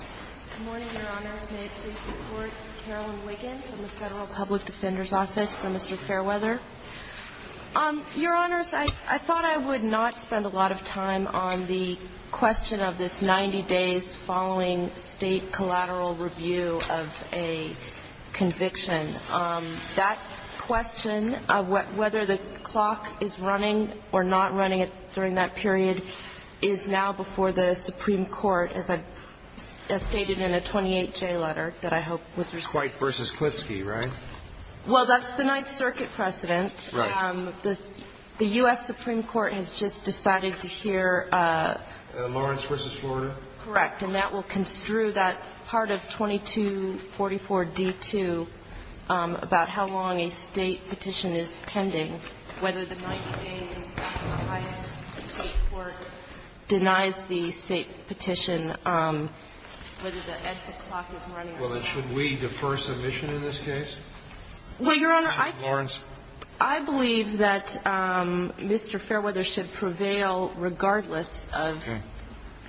Good morning, Your Honors. May it please the Court, Carolyn Wiggins from the Federal Public Defender's Office for Mr. Fairweather. Your Honors, I thought I would not spend a lot of time on the question of this 90 days following state collateral review of a conviction. That question of whether the clock is running or not running during that period is now before the Supreme Court, as I stated in a 28-J letter that I hope was received. Dwight v. Klitschke, right? Well, that's the Ninth Circuit precedent. Right. The U.S. Supreme Court has just decided to hear… Lawrence v. Florida? Correct. And that will construe that part of 2244d2 about how long a State petition is pending, whether the 90 days after the highest State court denies the State petition, whether the clock is running or not. Well, then should we defer submission in this case? Well, Your Honor, I can't. Lawrence. I believe that Mr. Fairweather should prevail regardless of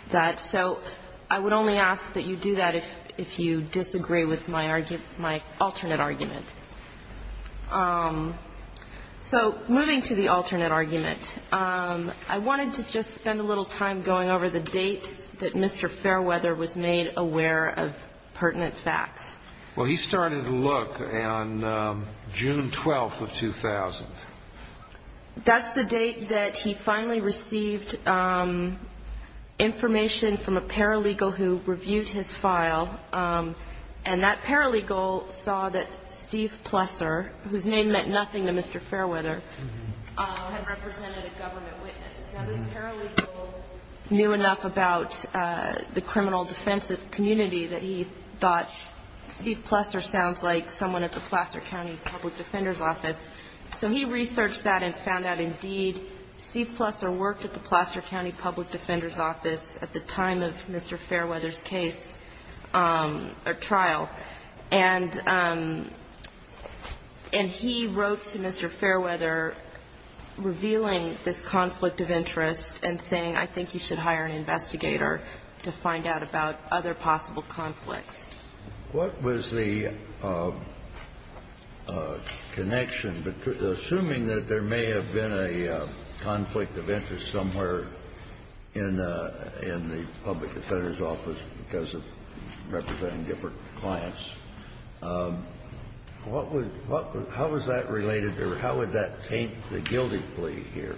that. So I would only ask that you do that if you disagree with my alternate argument. So moving to the alternate argument, I wanted to just spend a little time going over the date that Mr. Fairweather was made aware of pertinent facts. Well, he started a look on June 12th of 2000. That's the date that he finally received information from a paralegal who reviewed his file. And that paralegal saw that Steve Plesser, whose name meant nothing to Mr. Fairweather, had represented a government witness. Now, this paralegal knew enough about the criminal defensive community that he thought Steve Plesser sounds like someone at the Placer County Public Defender's Office. So he researched that and found out, indeed, Steve Plesser worked at the Placer County Public Defender's Office at the time of Mr. Fairweather's case or trial. And he wrote to Mr. Fairweather revealing this conflict of interest and saying, I think you should hire an investigator to find out about other possible conflicts. What was the connection? Assuming that there may have been a conflict of interest somewhere in the public defender's office because of representing different clients, how was that related or how would that taint the guilty plea here?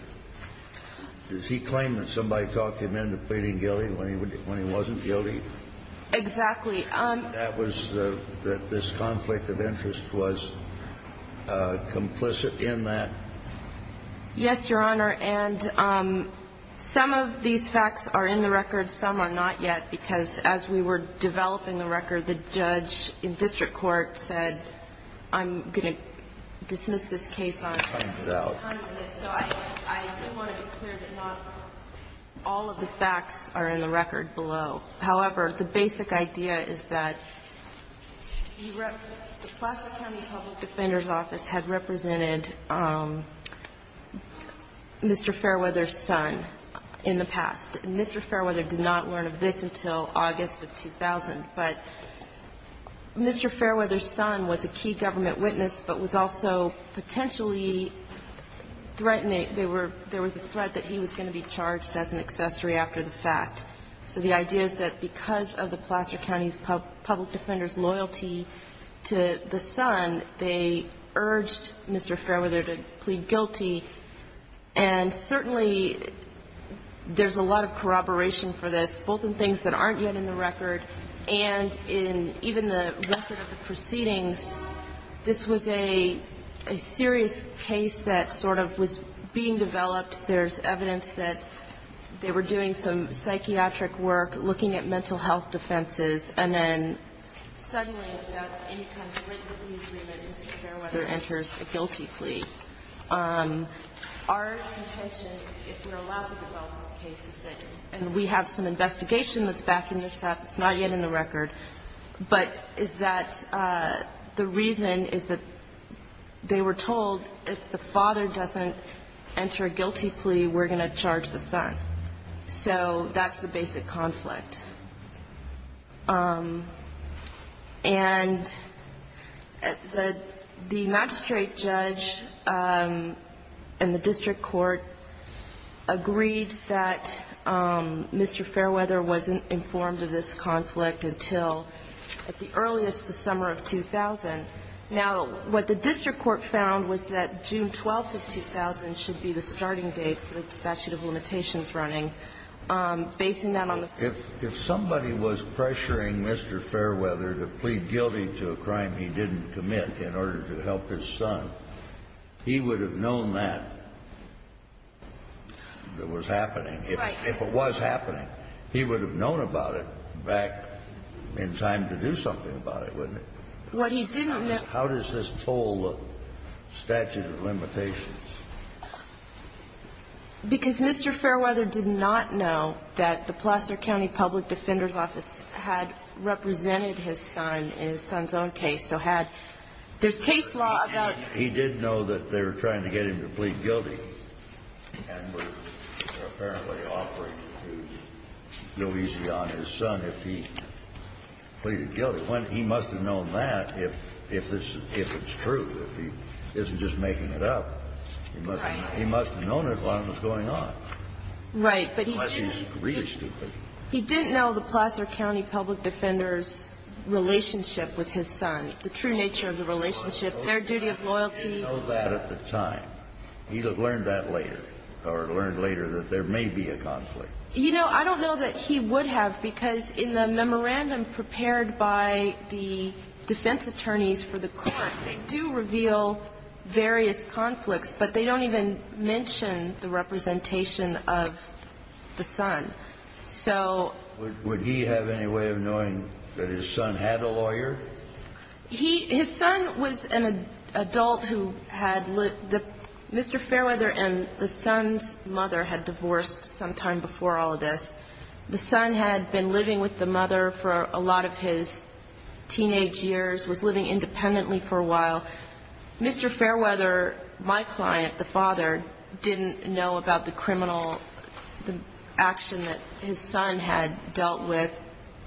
Does he claim that somebody talked him into pleading guilty when he wasn't guilty? Exactly. That this conflict of interest was complicit in that? Yes, Your Honor. And some of these facts are in the record, some are not yet, because as we were developing the record, the judge in district court said, I'm going to dismiss this case on time for this. So I do want to be clear that not all of the facts are in the record below. However, the basic idea is that the Placer County Public Defender's Office had represented Mr. Fairweather's son in the past. And Mr. Fairweather did not learn of this until August of 2000. But Mr. Fairweather's son was a key government witness, but was also potentially threatening. There were the threat that he was going to be charged as an accessory after the fact. So the idea is that because of the Placer County's public defender's loyalty to the son, they urged Mr. Fairweather to plead guilty. And certainly there's a lot of corroboration for this, both in things that aren't yet in the record and in even the record of the proceedings. This was a serious case that sort of was being developed. There's evidence that they were doing some psychiatric work, looking at mental health offenses, and then suddenly, without any kind of written agreement, Mr. Fairweather enters a guilty plea. Our intention, if we're allowed to develop this case, is that we have some investigation that's back in the South that's not yet in the record, but is that the reason is that they were told if the father doesn't enter a guilty plea, we're going to charge the son. So that's the basic conflict. And the magistrate judge and the district court agreed that Mr. Fairweather wasn't informed of this conflict until at the earliest the summer of 2000. Now, what the district court found was that June 12th of 2000 should be the starting date for the statute of limitations running, basing that on the fact that the father didn't enter a guilty plea. If somebody was pressuring Mr. Fairweather to plead guilty to a crime he didn't commit in order to help his son, he would have known that was happening. Right. If it was happening, he would have known about it back in time to do something about it, wouldn't he? Well, he didn't know. How does this toll the statute of limitations? Because Mr. Fairweather did not know that the Placer County Public Defender's Office had represented his son in his son's own case, so had there's case law about He did know that they were trying to get him to plead guilty and were apparently offering to go easy on his son if he pleaded guilty. He must have known that if it's true, if he isn't just making it up. Right. He must have known it while it was going on. Right. Unless he's really stupid. He didn't know the Placer County Public Defender's relationship with his son, the true nature of the relationship, their duty of loyalty. He didn't know that at the time. He learned that later, or learned later that there may be a conflict. You know, I don't know that he would have, because in the memorandum prepared by the defense attorneys for the court, they do reveal various conflicts, but they don't even mention the representation of the son. So would he have any way of knowing that his son had a lawyer? He – his son was an adult who had lived – Mr. Fairweather and the son's mother had divorced sometime before all of this. The son had been living with the mother for a lot of his teenage years, was living independently for a while. Mr. Fairweather, my client, the father, didn't know about the criminal action that his son had dealt with.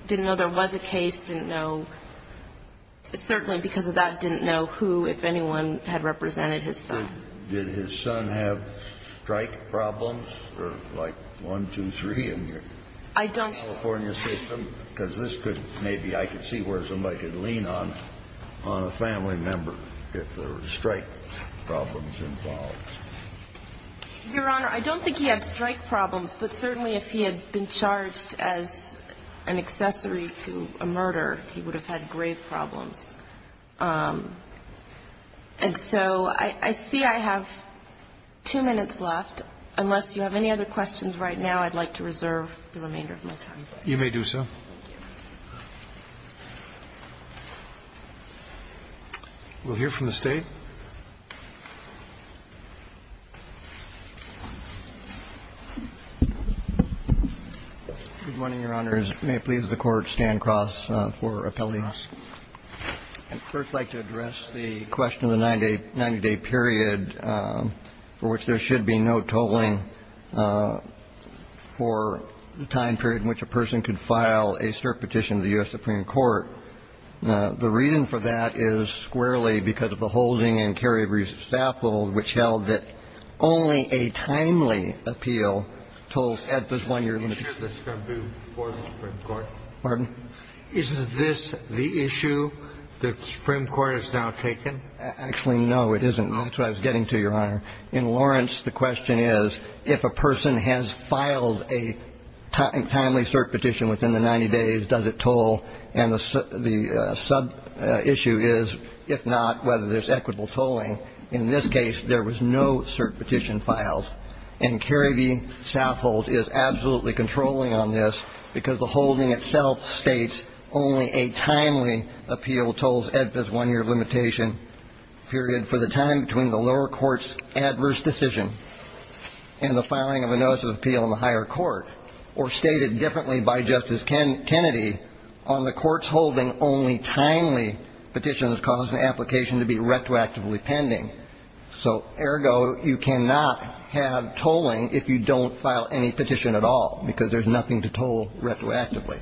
He didn't know there was a case, didn't know – certainly because of that, didn't know who, if anyone, had represented his son. Did his son have strike problems, or like one, two, three in your California system? I don't – Because this could maybe – I could see where somebody could lean on, on a family member if there were strike problems involved. Your Honor, I don't think he had strike problems, but certainly if he had been charged as an accessory to a murder, he would have had grave problems. And so I see I have two minutes left. Unless you have any other questions right now, I'd like to reserve the remainder of my time. You may do so. Thank you. We'll hear from the State. Good morning, Your Honors. May it please the Court stand cross for appellate. I'd first like to address the question of the 90-day period for which there should be no tolling for the time period in which a person could file a cert petition to the U.S. Supreme Court. The reason for that is squarely because of the holding and carryover use of staff hold, which held that only a timely appeal tolled at the one year limit. Is this the issue for the Supreme Court? Pardon? Is this the issue that the Supreme Court has now taken? Actually, no, it isn't. That's what I was getting to, Your Honor. In Lawrence, the question is, if a person has filed a timely cert petition within the 90 days, does it toll? And the sub-issue is, if not, whether there's equitable tolling. In this case, there was no cert petition filed. And Kerry v. Southolt is absolutely controlling on this because the holding itself states only a timely appeal tolls at this one-year limitation period for the time between the lower court's adverse decision and the filing of a notice of Kennedy. On the court's holding, only timely petitions cause an application to be retroactively pending. So, ergo, you cannot have tolling if you don't file any petition at all because there's nothing to toll retroactively.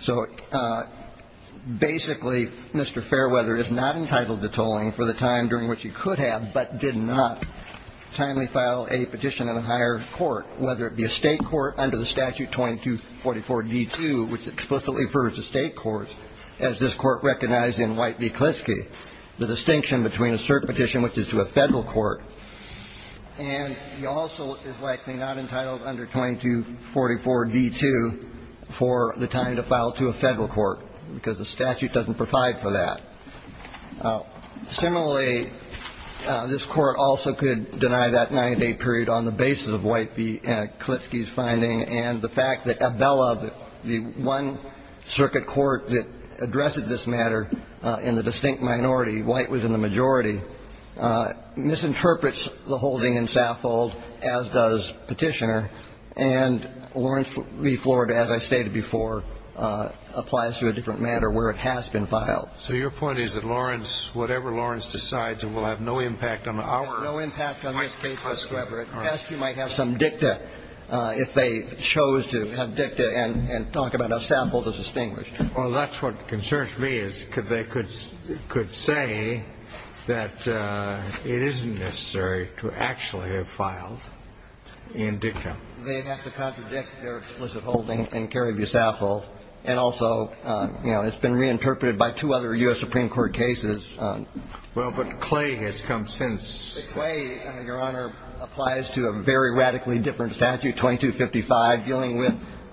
So basically, Mr. Fairweather is not entitled to tolling for the time during which he could have, but did not, timely file a petition in a higher court, whether it be a state court under the statute 2244d2, which explicitly refers to state courts, as this Court recognized in White v. Klitschke, the distinction between a cert petition which is to a Federal court, and he also is likely not entitled under 2244d2 for the time to file to a Federal court because the statute doesn't provide for that. Similarly, this Court also could deny that 90-day period on the basis of White v. Klitschke's finding and the fact that Abella, the one circuit court that addressed this matter in the distinct minority, White was in the majority, misinterprets the holding in Saffold, as does Petitioner. And Lawrence v. Florida, as I stated before, applies to a different matter where it has been filed. So your point is that Lawrence, whatever Lawrence decides, it will have no impact on our case whatsoever. As you might have some dicta, if they chose to have dicta and talk about how Saffold is distinguished. Well, that's what concerns me, is they could say that it isn't necessary to actually have filed in dicta. They'd have to contradict their explicit holding in Kerry v. Saffold. And also, you know, it's been reinterpreted by two other U.S. Supreme Court cases. Well, but Clay has come since. Clay, Your Honor, applies to a very radically different statute, 2255, dealing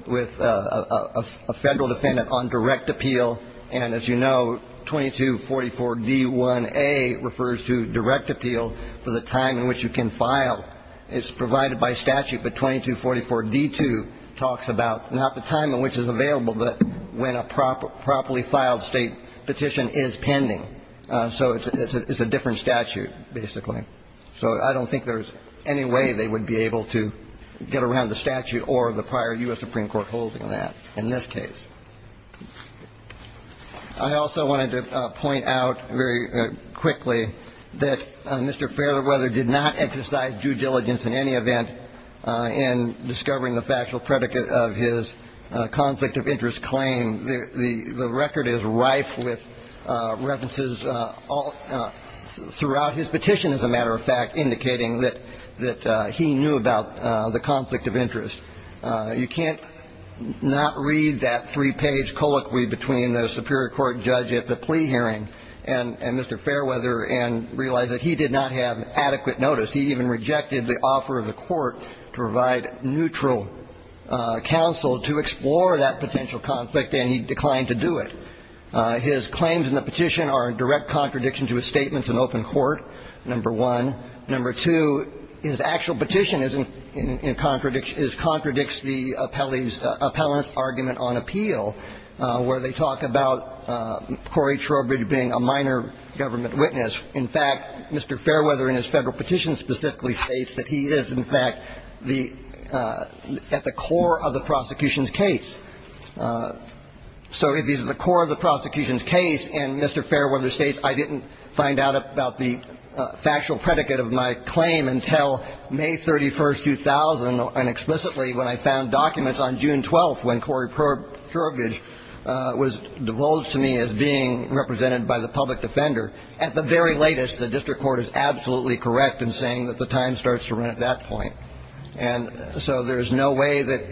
with a Federal defendant on direct appeal. And as you know, 2244d1a refers to direct appeal for the time in which you can file. It's provided by statute, but 2244d2 talks about not the time in which it's available, but when a properly filed State petition is pending. So it's a different statute, basically. So I don't think there's any way they would be able to get around the statute or the prior U.S. Supreme Court holding on that in this case. I also wanted to point out very quickly that Mr. Fairweather did not exercise due diligence in any event in discovering the factual predicate of his conflict of interest claim. The record is rife with references throughout his petition, as a matter of fact, indicating that he knew about the conflict of interest. You can't not read that three-page colloquy between the Superior Court judge at the plea hearing and Mr. Fairweather and realize that he did not have adequate notice. He even rejected the offer of the Court to provide neutral counsel to explore that potential conflict, and he declined to do it. His claims in the petition are in direct contradiction to his statements in open court, number one. Number two, his actual petition is in contradiction the appellee's, appellant's argument on appeal, where they talk about Corey Trowbridge being a minor government witness. In fact, Mr. Fairweather, in his Federal petition specifically, states that he is, in fact, the at the core of the prosecution's case. So if he's at the core of the prosecution's case, and Mr. Fairweather states, I didn't find out about the factual predicate of my claim until May 31, 2000, and explicitly when I found documents on June 12th when Corey Trowbridge was divulged to me as being represented by the public defender. At the very latest, the district court is absolutely correct in saying that the time starts to run at that point. And so there's no way that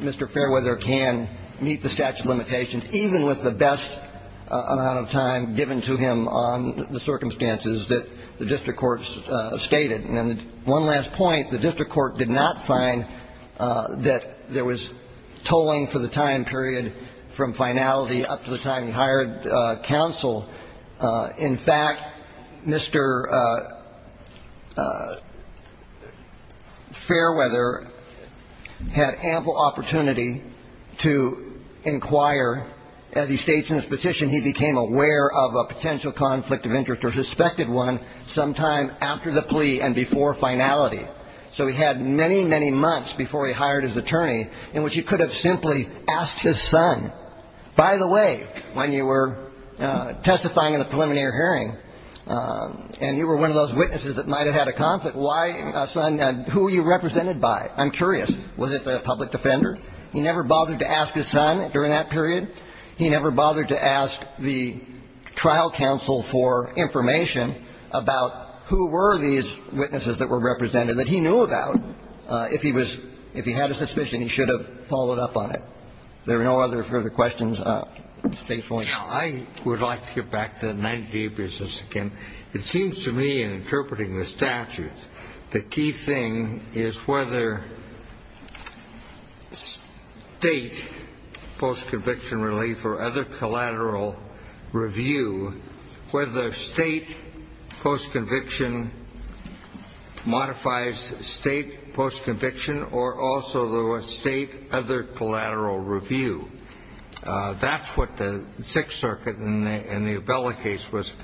Mr. Fairweather can meet the statute of limitations, even with the best amount of time given to him on the circumstances that the district court stated. And then one last point. The district court did not find that there was tolling for the time period from finality up to the time he hired counsel. In fact, Mr. Fairweather had ample opportunity to inquire. As he states in his petition, he became aware of a potential conflict of interest or suspected one sometime after the plea and before finality. So he had many, many months before he hired his attorney in which he could have simply asked his son, by the way, when you were testifying in the preliminary hearing and you were one of those witnesses that might have had a conflict, why, son, who were you represented by? I'm curious. Was it the public defender? He never bothered to ask his son during that period. He never bothered to ask the trial counsel for information about who were these witnesses that were represented that he knew about. If he had a suspicion, he should have followed up on it. There are no other further questions. State's only. Now, I would like to get back to the 90-day business again. It seems to me in interpreting the statute, the key thing is whether State post-conviction relief or other collateral review, whether State post-conviction modifies State post-conviction or also the State other collateral review. That's what the Sixth Circuit in the Abella case was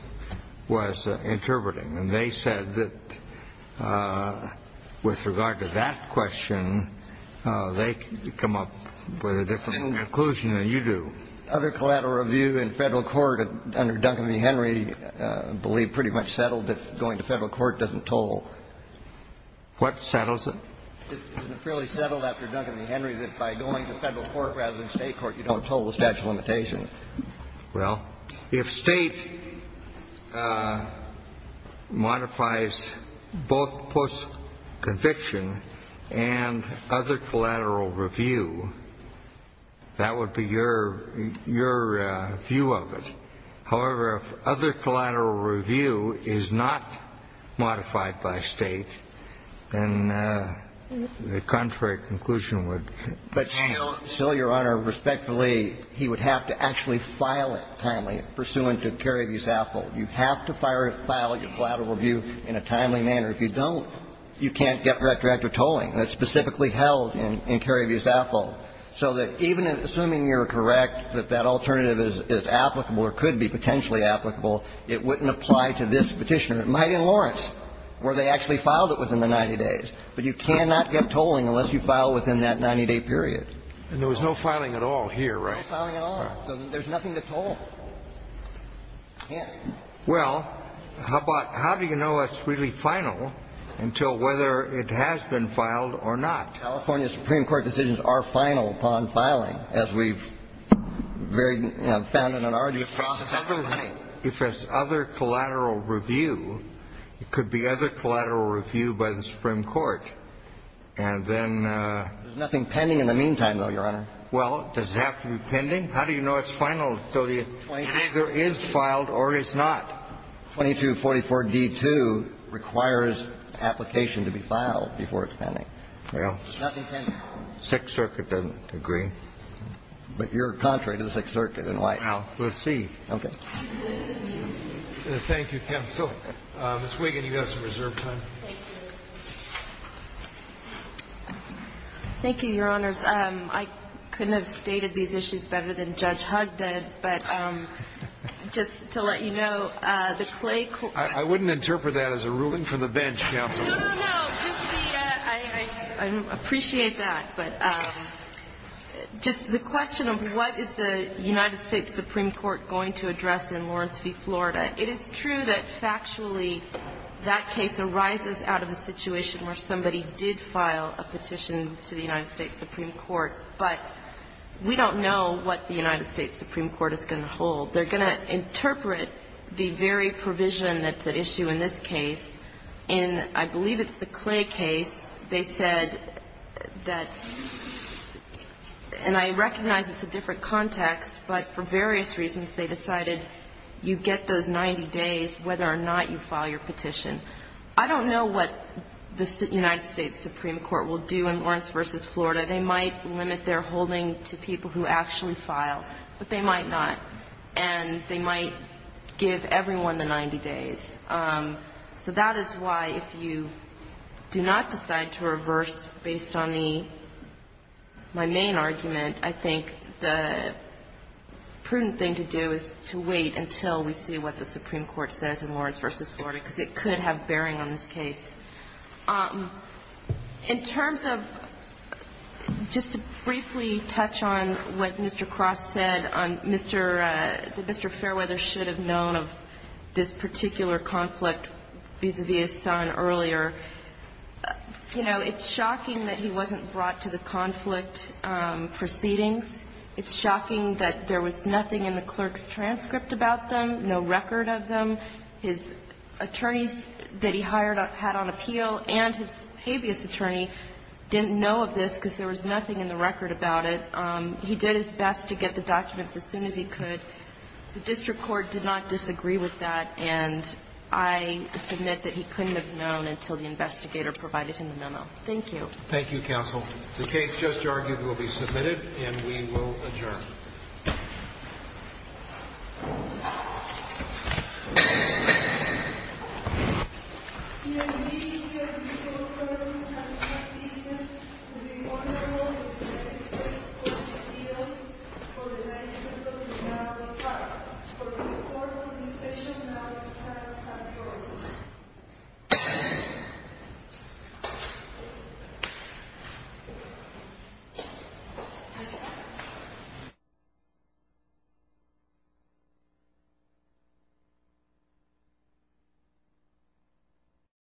interpreting. And they said that with regard to that question, they come up with a different conclusion than you do. Other collateral review in federal court under Duncan v. Henry I believe pretty much settled that going to federal court doesn't toll. What settles it? It's fairly settled after Duncan v. Henry that by going to federal court rather than State court, you don't toll the statute of limitations. Well, if State modifies both post-conviction and other collateral review, that would be your view of it. However, if other collateral review is not modified by State, then the contrary conclusion would be. But still, Your Honor, respectfully, he would have to actually file it timely pursuant to Kerry v. Saffold. You have to file your collateral review in a timely manner. If you don't, you can't get retroactive tolling. That's specifically held in Kerry v. Saffold. So that even assuming you're correct that that alternative is applicable or could be potentially applicable, it wouldn't apply to this Petitioner. It might in Lawrence, where they actually filed it within the 90 days. But you cannot get tolling unless you file within that 90-day period. And there was no filing at all here, right? No filing at all. There's nothing to toll. Yeah. Well, how about how do you know it's really final until whether it has been filed or not? California Supreme Court decisions are final upon filing, as we've found in an argument before. If it's other collateral review, it could be other collateral review by the Supreme Court. And then there's nothing pending in the meantime, though, Your Honor. Well, does it have to be pending? How do you know it's final until it either is filed or it's not? 2244d2 requires application to be filed before it's pending. Nothing pending. Sixth Circuit doesn't agree. But you're contrary to the Sixth Circuit. And why? Well, let's see. Okay. Thank you, counsel. Ms. Wiggin, you have some reserve time. Thank you, Your Honors. I couldn't have stated these issues better than Judge Hugg did. But just to let you know, the Clay court ---- I wouldn't interpret that as a ruling from the bench, counsel. No, no, no. Just the ---- I appreciate that. But just the question of what is the United States Supreme Court going to address in Lawrence v. Florida. It is true that factually that case arises out of a situation where somebody did file a petition to the United States Supreme Court. But we don't know what the United States Supreme Court is going to hold. They're going to interpret the very provision that's at issue in this case. In I believe it's the Clay case, they said that ---- and I recognize it's a different context, but for various reasons, they decided you get those 90 days whether or not you file your petition. I don't know what the United States Supreme Court will do in Lawrence v. Florida. They might limit their holding to people who actually file, but they might not. And they might give everyone the 90 days. So that is why if you do not decide to reverse based on the ---- my main argument, I think the prudent thing to do is to wait until we see what the Supreme Court says in Lawrence v. Florida, because it could have bearing on this case. In terms of just to briefly touch on what Mr. Cross said on Mr. ---- that Mr. Fairweather should have known of this particular conflict vis-à-vis his son earlier, you know, it's shocking that he wasn't brought to the conflict proceedings. It's shocking that there was nothing in the clerk's transcript about them, no record of them. His attorneys that he hired had on appeal and his habeas attorney didn't know of this because there was nothing in the record about it. He did his best to get the documents as soon as he could. The district court did not disagree with that, and I submit that he couldn't have known until the investigator provided him the memo. Thank you. Roberts. Thank you, counsel. The case just argued will be submitted, and we will adjourn. Thank you. Thank you.